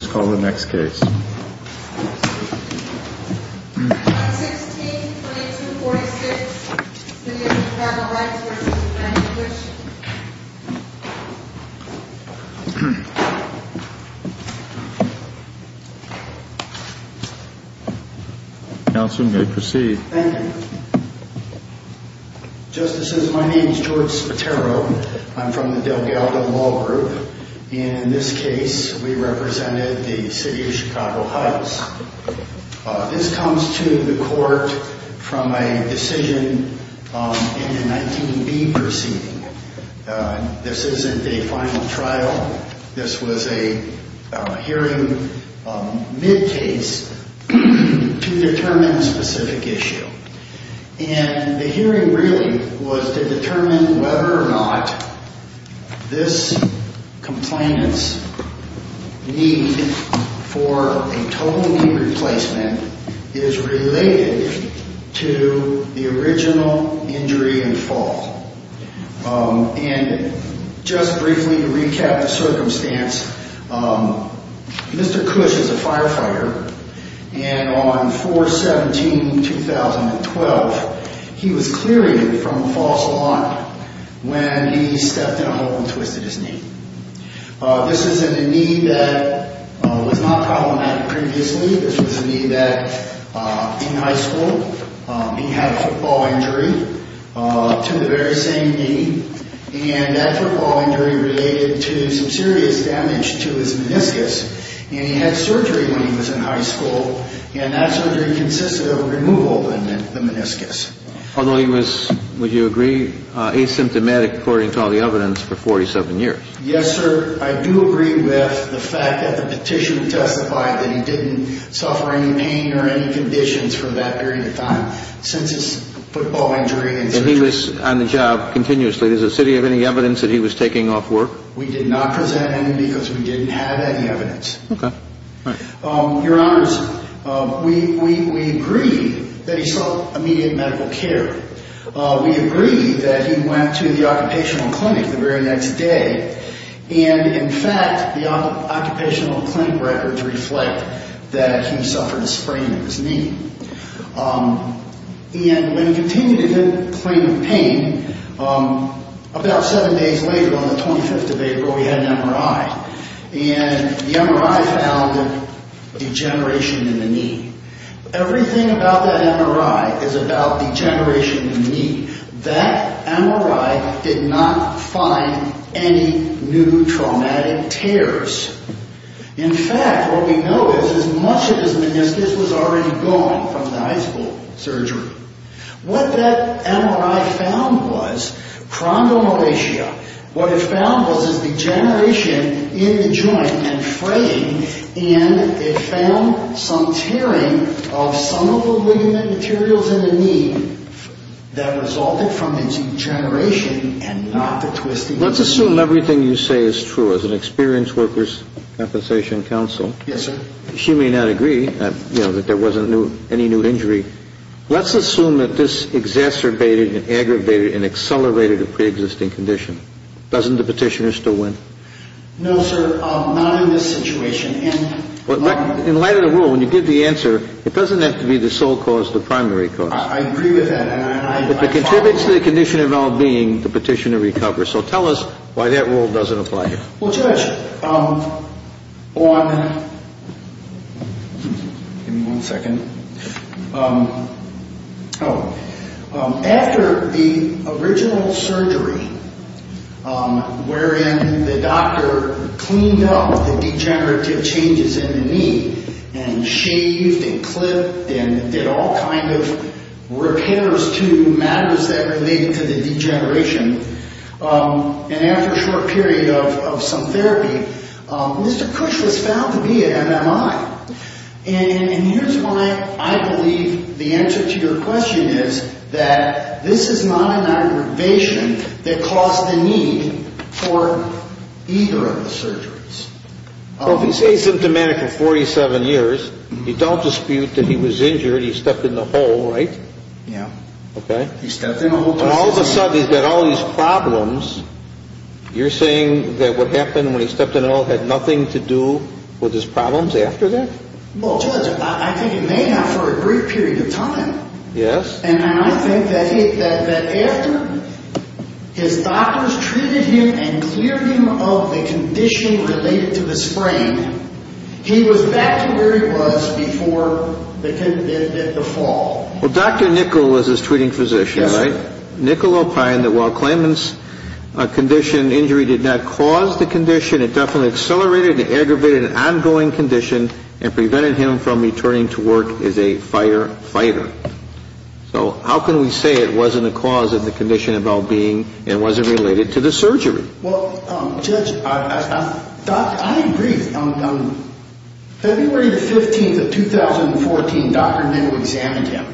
Let's call the next case. On 16-22-46, City of Chicago Heights v. Grand Inquisition. Counselor, you may proceed. Thank you. Justices, my name is George Spatero. I'm from the Delgado Law Group. In this case, we represented the City of Chicago Heights. This comes to the court from a decision in the 19B proceeding. This isn't a final trial. This was a hearing mid-case to determine a specific issue. The hearing really was to determine whether or not this complainant's need for a total knee replacement is related to the original injury and fall. Just briefly to recap the circumstance, Mr. Cush is a firefighter. On 4-17-2012, he was clearing from a false alarm when he stepped in a hole and twisted his knee. This isn't a knee that was not problematic previously. This was a knee that, in high school, he had a football injury to the very same knee. That football injury related to some serious damage to his meniscus. And he had surgery when he was in high school, and that surgery consisted of removal of the meniscus. Although he was, would you agree, asymptomatic according to all the evidence for 47 years? Yes, sir. I do agree with the fact that the petition testified that he didn't suffer any pain or any conditions from that period of time since his football injury and surgery. And he was on the job continuously. Does the city have any evidence that he was taking off work? We did not present any because we didn't have any evidence. Okay. All right. Your Honors, we agree that he sought immediate medical care. We agree that he went to the occupational clinic the very next day. And, in fact, the occupational clinic records reflect that he suffered a sprain of his knee. And when he continued to complain of pain, about seven days later, on the 25th of April, he had an MRI. And the MRI found degeneration in the knee. Everything about that MRI is about degeneration in the knee. That MRI did not find any new traumatic tears. In fact, what we know is as much of his meniscus was already gone from the high school surgery. What that MRI found was chrondomalacia. What it found was this degeneration in the joint and fraying. And it found some tearing of some of the ligament materials in the knee that resulted from the degeneration and not the twisting of the knee. Let's assume everything you say is true. As an experienced workers' compensation counsel. Yes, sir. She may not agree, you know, that there wasn't any new injury. Let's assume that this exacerbated and aggravated and accelerated a preexisting condition. Doesn't the petitioner still win? No, sir. Not in this situation. In light of the rule, when you give the answer, it doesn't have to be the sole cause, the primary cause. I agree with that. If it contributes to the condition of well-being, the petitioner recovers. So tell us why that rule doesn't apply here. Well, Judge, after the original surgery, wherein the doctor cleaned up the degenerative changes in the knee and shaved and clipped and did all kinds of repairs to matters that related to the degeneration, and after a short period of some therapy, Mr. Cush was found to be at MMI. And here's why I believe the answer to your question is that this is not an aggravation that caused the need for either of the surgeries. So if he's asymptomatic for 47 years, you don't dispute that he was injured, he stepped in a hole, right? Yeah. Okay. He stepped in a hole. All of a sudden, he's got all these problems. You're saying that what happened when he stepped in a hole had nothing to do with his problems after that? Well, Judge, I think it may have for a brief period of time. Yes. And I think that after his doctors treated him and cleared him of the condition related to the sprain, he was back to where he was before the fall. Well, Dr. Nickel was his treating physician, right? Yes, sir. Nickel opined that while Clayman's injury did not cause the condition, it definitely accelerated and aggravated an ongoing condition and prevented him from returning to work as a firefighter. So how can we say it wasn't a cause of the condition of well-being and wasn't related to the surgery? Well, Judge, I agree. On February the 15th of 2014, Dr. Nickel examined him.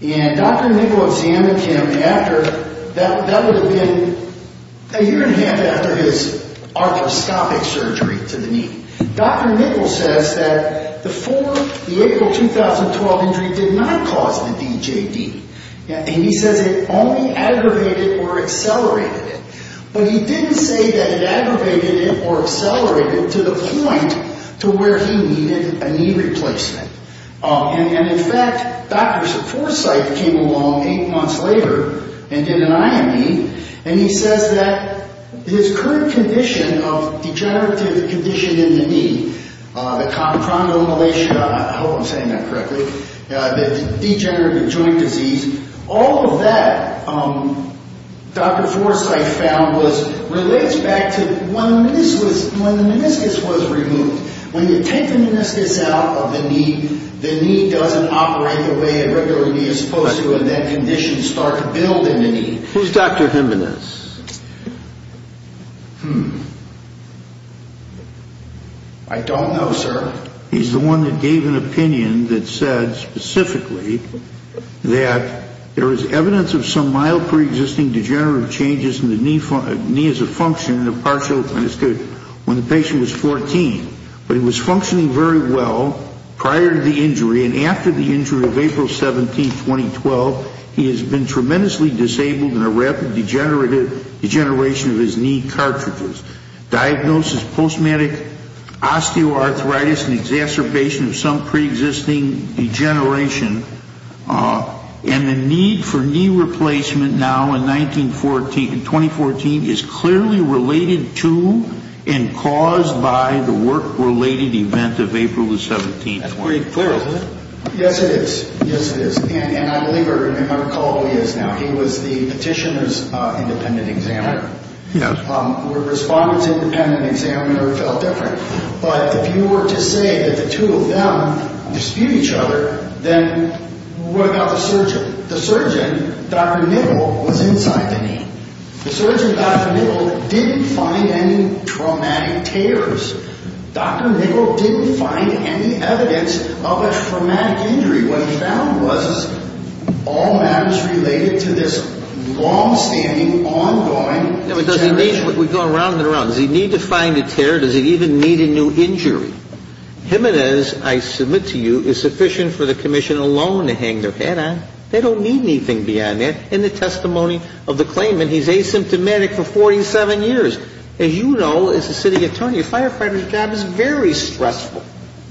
And Dr. Nickel examined him after that would have been a year and a half after his arthroscopic surgery to the knee. Dr. Nickel says that the April 2012 injury did not cause the DJD. And he says it only aggravated or accelerated it. But he didn't say that it aggravated it or accelerated it to the point to where he needed a knee replacement. And, in fact, doctors at Foresight came along eight months later and did an IME. And he says that his current condition of degenerative condition in the knee, the chondromalacia, I hope I'm saying that correctly, the degenerative joint disease, all of that, Dr. Foresight found, relates back to when the meniscus was removed. When you take the meniscus out of the knee, the knee doesn't operate the way a regular knee is supposed to. Who's Dr. Jimenez? I don't know, sir. He's the one that gave an opinion that said specifically that there is evidence of some mild preexisting degenerative changes in the knee as a function of partial meniscus when the patient was 14. But it was functioning very well prior to the injury. And after the injury of April 17, 2012, he has been tremendously disabled and a rapid degeneration of his knee cartridges. Diagnosis, post-traumatic osteoarthritis and exacerbation of some preexisting degeneration. And the need for knee replacement now in 2014 is clearly related to and caused by the work-related event of April 17, 2012. Yes, it is. Yes, it is. And I believe I recall who he is now. He was the petitioner's independent examiner. The respondent's independent examiner felt different. But if you were to say that the two of them dispute each other, then what about the surgeon? The surgeon, Dr. Niggle, was inside the knee. The surgeon, Dr. Niggle, didn't find any traumatic tears. Dr. Niggle didn't find any evidence of a traumatic injury. What he found was all matters related to this longstanding, ongoing deterioration. We go around and around. Does he need to find a tear? Does he even need a new injury? Jimenez, I submit to you, is sufficient for the commission alone to hang their hat on. They don't need anything beyond that. In the testimony of the claimant, he's asymptomatic for 47 years. As you know, as a city attorney, a firefighter's job is very stressful.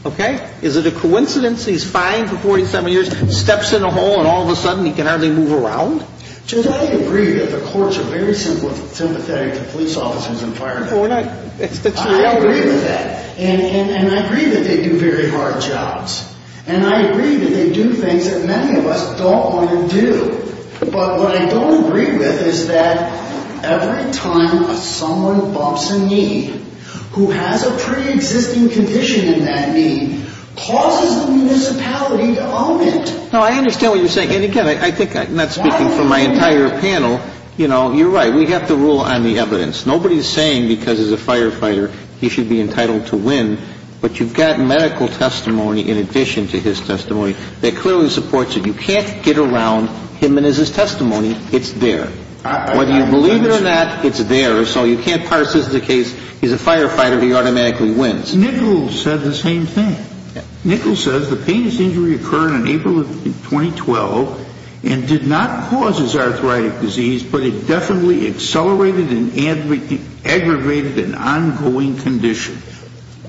Okay? Is it a coincidence he's fine for 47 years, steps in a hole, and all of a sudden he can hardly move around? Jimenez, I agree that the courts are very sympathetic to police officers and firemen. Well, we're not. I agree with that. And I agree that they do very hard jobs. And I agree that they do things that many of us don't want to do. But what I don't agree with is that every time someone bumps a knee, who has a preexisting condition in that knee, causes the municipality to own it. No, I understand what you're saying. And, again, I think I'm not speaking for my entire panel. You know, you're right. We have to rule on the evidence. Nobody's saying because he's a firefighter he should be entitled to win. But you've got medical testimony in addition to his testimony that clearly supports it. You can't get around Jimenez's testimony. It's there. Whether you believe it or not, it's there. So you can't parse this as a case he's a firefighter, he automatically wins. Nichols said the same thing. Nichols says the painless injury occurred in April of 2012 and did not cause his arthritic disease, but it definitely accelerated and aggravated an ongoing condition.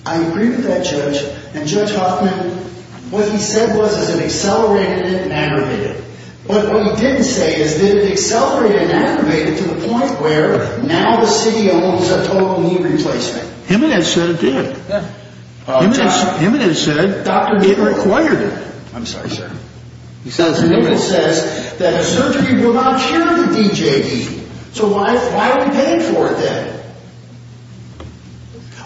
I agree with that, Judge. And, Judge Hoffman, what he said was it accelerated it and aggravated it. But what he didn't say is did it accelerate it and aggravate it to the point where now the city owns a total knee replacement. Jimenez said it did. Jimenez said Dr. Nichols acquired it. I'm sorry, sir. Nichols says that surgery will not cure the DJD. So why are we paying for it then?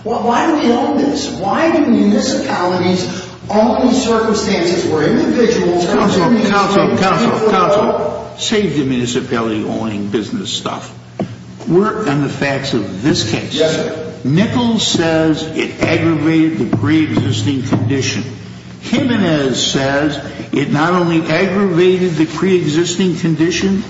Why do we own this? Why do municipalities own these circumstances where individuals are going to be paid to pay for it all? Counselor, counselor, counselor. Save the municipality-owning business stuff. We're on the facts of this case. Yes, sir. Nichols says it aggravated the preexisting condition. Jimenez says it not only aggravated the preexisting condition,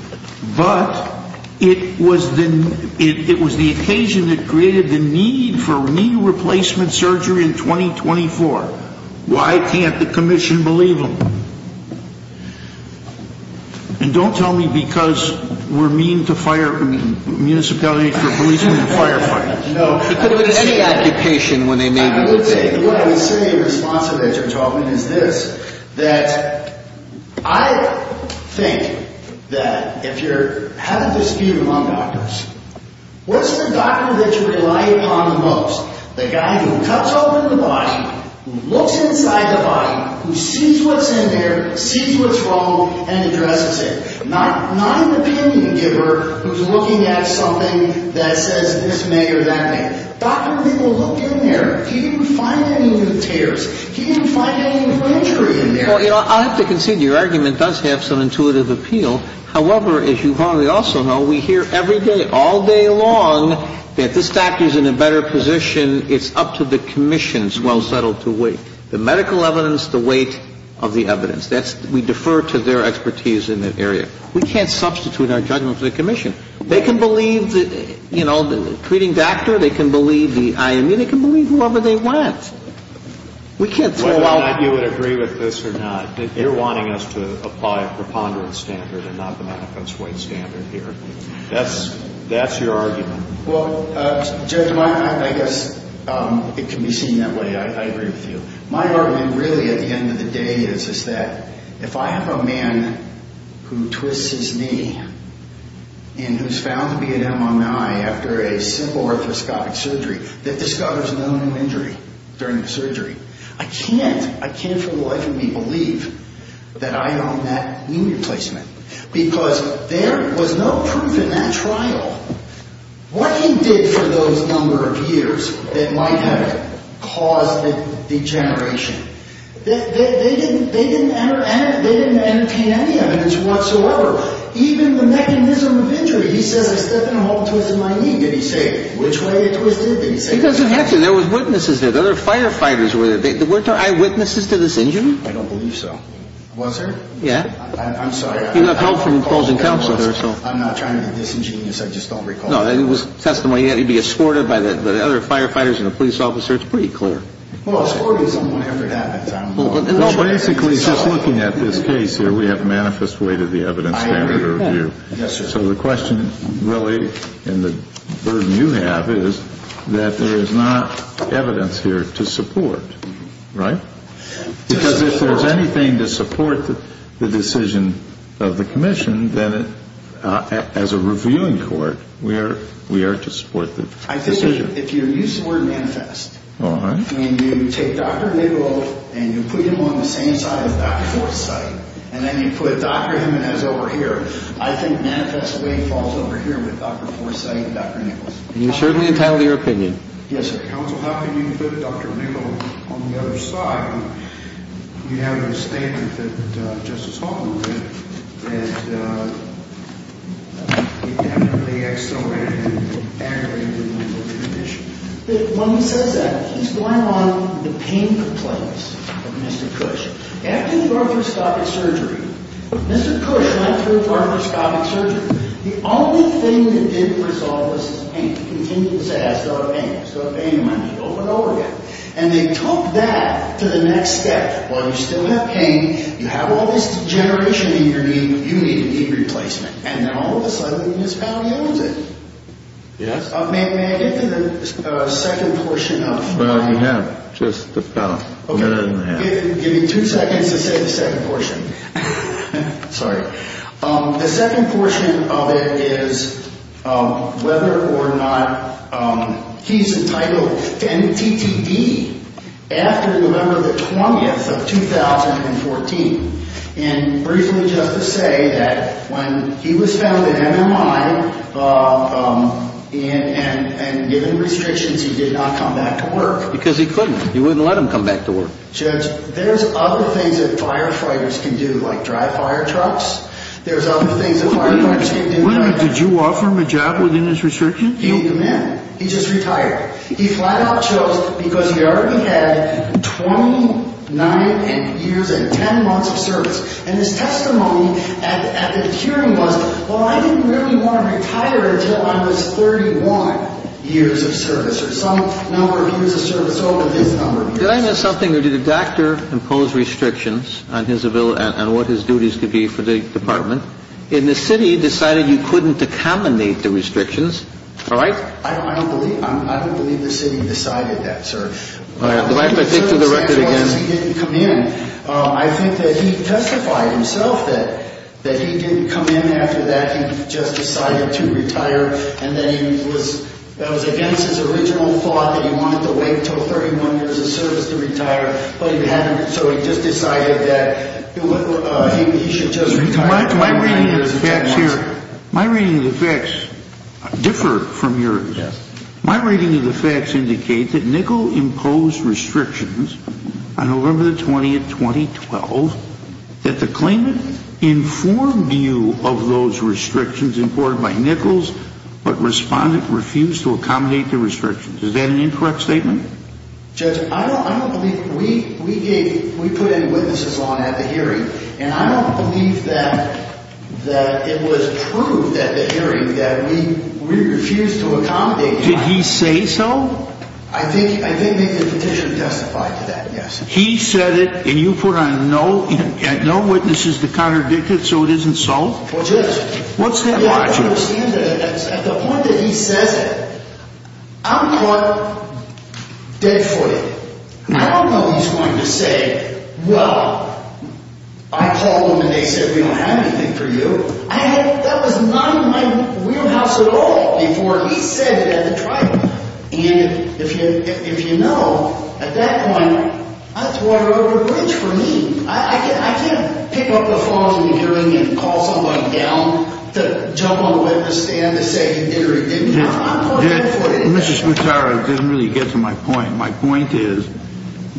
but it was the occasion that created the need for knee replacement surgery in 2024. Why can't the commission believe him? And don't tell me because we're mean to fire municipalities for policing and firefighting. What I would say responsibly as you're talking is this, that I think that if you're having a dispute among doctors, what's the doctor that you rely upon the most? The guy who cuts open the body, who looks inside the body, who sees what's in there, sees what's wrong, and addresses it. Not an opinion giver who's looking at something that says this may or that may. Doctor, people look in there. Do you find any new tears? Do you find any new injury in there? Well, you know, I have to concede your argument does have some intuitive appeal. However, as you probably also know, we hear every day, all day long, that this doctor's in a better position. It's up to the commission's well-settled to wait. The medical evidence, the wait of the evidence. We defer to their expertise in that area. We can't substitute our judgment for the commission. They can believe, you know, the treating doctor. They can believe the IME. They can believe whoever they want. We can't throw out. Whether or not you would agree with this or not, you're wanting us to apply a preponderance standard and not the manifest wait standard here. That's your argument. Well, Judge, I guess it can be seen that way. I agree with you. My argument really at the end of the day is that if I have a man who twists his knee and who's found to be at MMI after a simple orthoscopic surgery that discovers no new injury during the surgery, I can't for the life of me believe that I don't have knee replacement because there was no proof in that trial. What he did for those number of years that might have caused the degeneration, they didn't entertain any evidence whatsoever. Even the mechanism of injury. He says I stepped in a hole and twisted my knee. Did he say which way it twisted? He doesn't have to. There were witnesses there. There were firefighters there. Were there eyewitnesses to this injury? I don't believe so. Was there? Yeah. I'm sorry. You got help from the closing counsel. I'm not trying to be disingenuous. I just don't recall. No, it was testimony. He had to be escorted by the other firefighters and the police officer. It's pretty clear. Well, escorting someone after that, I don't know. Well, basically, just looking at this case here, we have manifest way to the evidence standard review. I agree with that. Yes, sir. So the question really and the burden you have is that there is not evidence here to support, right? Because if there's anything to support the decision of the commission, then as a reviewing court, we are to support the decision. I think if you use the word manifest, and you take Dr. Nichols and you put him on the same side as Dr. Forsythe, and then you put Dr. Jimenez over here, I think manifest way falls over here with Dr. Forsythe and Dr. Nichols. And you certainly entitled your opinion. Yes, sir. Counsel, how can you put Dr. Nichols on the other side? We have a statement that Justice Holman read that he definitely accelerated and aggravated the mental condition. When he says that, he's going on the pain complaints of Mr. Cush. After the arthrostatic surgery, Mr. Cush went through arthrostatic surgery. The only thing that didn't resolve was his pain. And he continued to say, I still have pain. I still have pain in my knee, over and over again. And they took that to the next step. While you still have pain, you have all this degeneration in your knee, but you need a knee replacement. And then all of a sudden, this fellow knows it. Yes. May I get to the second portion of it? Well, you have just a minute and a half. Give me two seconds to say the second portion. Sorry. The second portion of it is whether or not he's entitled to end TTD after November the 20th of 2014. And briefly just to say that when he was found in MMI and given restrictions, he did not come back to work. Because he couldn't. He wouldn't let him come back to work. Judge, there's other things that firefighters can do, like drive fire trucks. There's other things that firefighters can do. Wait a minute. Did you offer him a job within his restrictions? No. He didn't come in. He just retired. He flat out chose because he already had 29 years and 10 months of service. And his testimony at the hearing was, well, I didn't really want to retire until I was 31 years of service, or some number of years of service over this number of years. Did I miss something, or did the doctor impose restrictions on what his duties could be for the department? And the city decided you couldn't accommodate the restrictions. All right. I don't believe the city decided that, sir. All right. Do I have to take to the record again? He didn't come in. I think that he testified himself that he didn't come in after that. He just decided to retire. That was against his original thought that he wanted to wait until 31 years of service to retire, but he hadn't. So he just decided that he should just retire. My reading of the facts here differ from yours. Yes. My reading of the facts indicates that Nichol imposed restrictions on November the 20th, 2012, that the claimant informed you of those restrictions imported by Nichols, but refused to accommodate the restrictions. Is that an incorrect statement? Judge, I don't believe we put any witnesses on at the hearing, and I don't believe that it was proved at the hearing that we refused to accommodate. Did he say so? I did make the petition testify to that, yes. He said it, and you put on no witnesses to contradict it, so it isn't so? Well, Judge. What's that logic? I don't understand that. At the point that he says it, I'm caught dead footed. I don't know he's going to say, well, I called him and they said we don't have anything for you. That was not in my wheelhouse at all before he said it at the trial. And if you know, at that point, that's water over the bridge for me. I can't pick up a phone in the hearing and call someone down to jump on the witness stand to say he did or he didn't. I'm caught dead footed. Mr. Smataro, it doesn't really get to my point. My point is,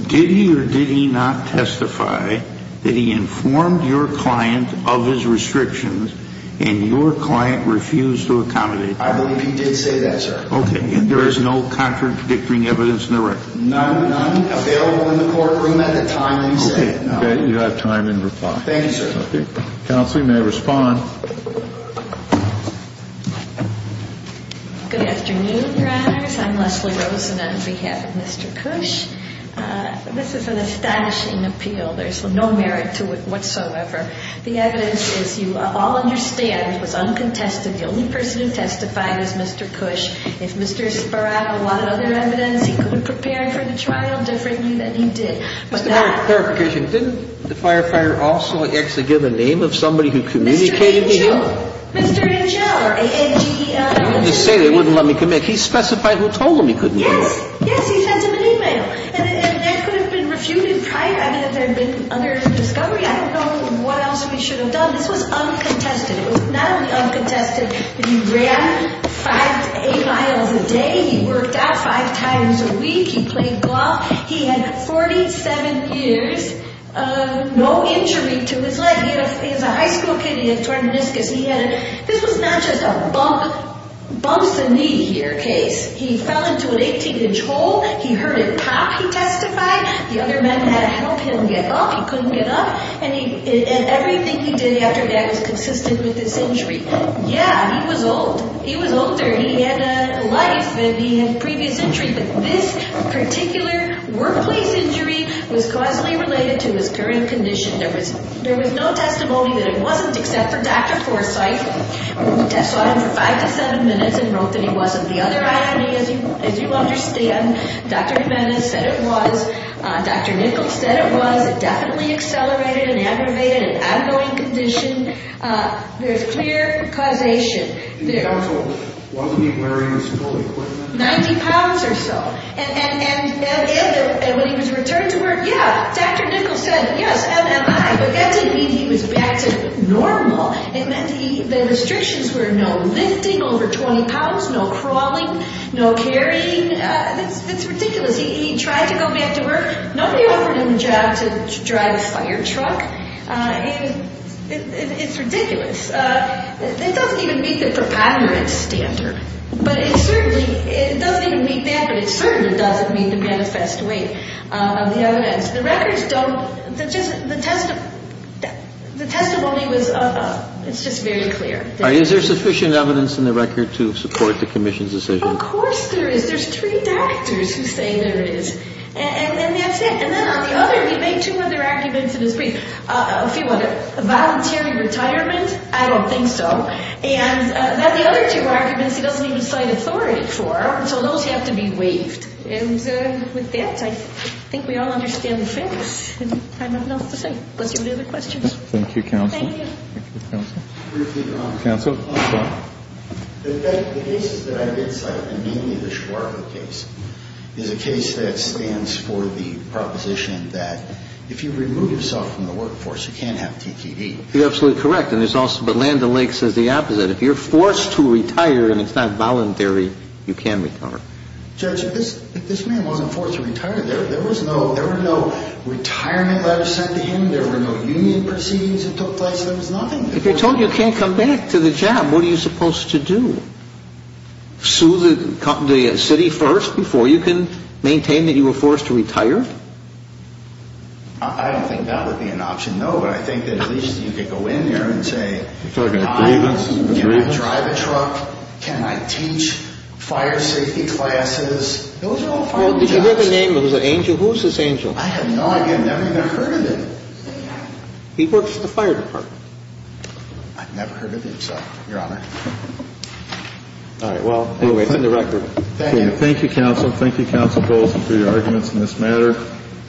did he or did he not testify that he informed your client of his restrictions and your client refused to accommodate? I believe he did say that, sir. Okay. And there is no contradicting evidence in the record? None available in the courtroom at the time he said it. Okay. You have time in reply. Thank you, sir. Counsel, you may respond. Good afternoon, Your Honors. I'm Leslie Rosen on behalf of Mr. Cush. This is an astonishing appeal. There's no merit to it whatsoever. The evidence, as you all understand, was uncontested. The only person who testified was Mr. Cush. If Mr. Sparato wanted other evidence, he could have prepared for the trial differently than he did. Just a clarification. Didn't the firefighter also actually give the name of somebody who communicated to him? Mr. Angel. Mr. Angel or A-N-G-E-L. He didn't say they wouldn't let me commit. He specified who told him he couldn't do it. Yes. Yes, he sent him an e-mail. And that could have been refuted prior. I mean, if there had been unearthed discovery, I don't know what else we should have done. This was uncontested. It was not only uncontested. He ran five to eight miles a day. He worked out five times a week. He played golf. He had 47 years, no injury to his leg. He was a high school kid. He had torn meniscus. This was not just a bumps-the-knee-here case. He fell into an 18-inch hole. He heard a pop, he testified. The other men had helped him get up. He couldn't get up. And everything he did after that was consistent with this injury. Yeah, he was old. He was older. He had a life. And he had previous injury. But this particular workplace injury was causally related to his current condition. There was no testimony that it wasn't, except for Dr. Forsythe, who testified for five to seven minutes and wrote that it wasn't the other eye injury, as you understand. Dr. Jimenez said it was. Dr. Nichols said it was. It definitely accelerated and aggravated an outgoing condition. There's clear causation. The counsel, wasn't he wearing his full equipment? 90 pounds or so. And when he was returned to work, yeah, Dr. Nichols said, yes, but that didn't mean he was back to normal. It meant the restrictions were no lifting over 20 pounds, no crawling, no carrying. That's ridiculous. He tried to go back to work. Nobody offered him a job to drive a fire truck. It's ridiculous. It doesn't even meet the preponderance standard. But it certainly doesn't meet that, but it certainly doesn't meet the manifest weight of the other men. The records don't, the testimony was, it's just very clear. Is there sufficient evidence in the record to support the commission's decision? Of course there is. There's three doctors who say there is, and that's it. And then on the other, he made two other arguments in his brief. A few of them, voluntary retirement, I don't think so. And then the other two arguments he doesn't even cite authority for, so those have to be waived. And with that, I think we all understand the facts, and I have nothing else to say. Unless you have any other questions. Thank you, Counsel. Thank you. Thank you, Counsel. Briefly, Your Honor. Counsel. The cases that I did cite, and mainly the Schwartz case, is a case that stands for the proposition that if you remove yourself from the workforce, you can't have TKD. You're absolutely correct. But Land O'Lakes says the opposite. If you're forced to retire and it's not voluntary, you can retire. Judge, if this man wasn't forced to retire, there were no retirement letters sent to him. There were no union proceedings that took place. There was nothing. If you're told you can't come back to the job, what are you supposed to do? Sue the city first before you can maintain that you were forced to retire? I don't think that would be an option, no, but I think that at least you could go in there and say, You're talking about grievance? Grievance? Can I drive a truck? Can I teach fire safety classes? Those are all fire jobs. Well, did you hear the name of the angel? Who's this angel? I have no idea. I've never even heard of him. He works at the fire department. I've never heard of him, sir, Your Honor. All right. Well, anyway, it's in the record. Thank you. Thank you, Counsel. Thank you, Counsel Bolson, for your arguments in this matter.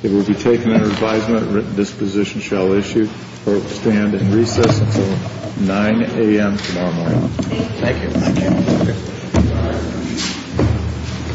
It will be taken under advisement that this position shall stand in recess until 9 a.m. tomorrow morning. Thank you. Thank you.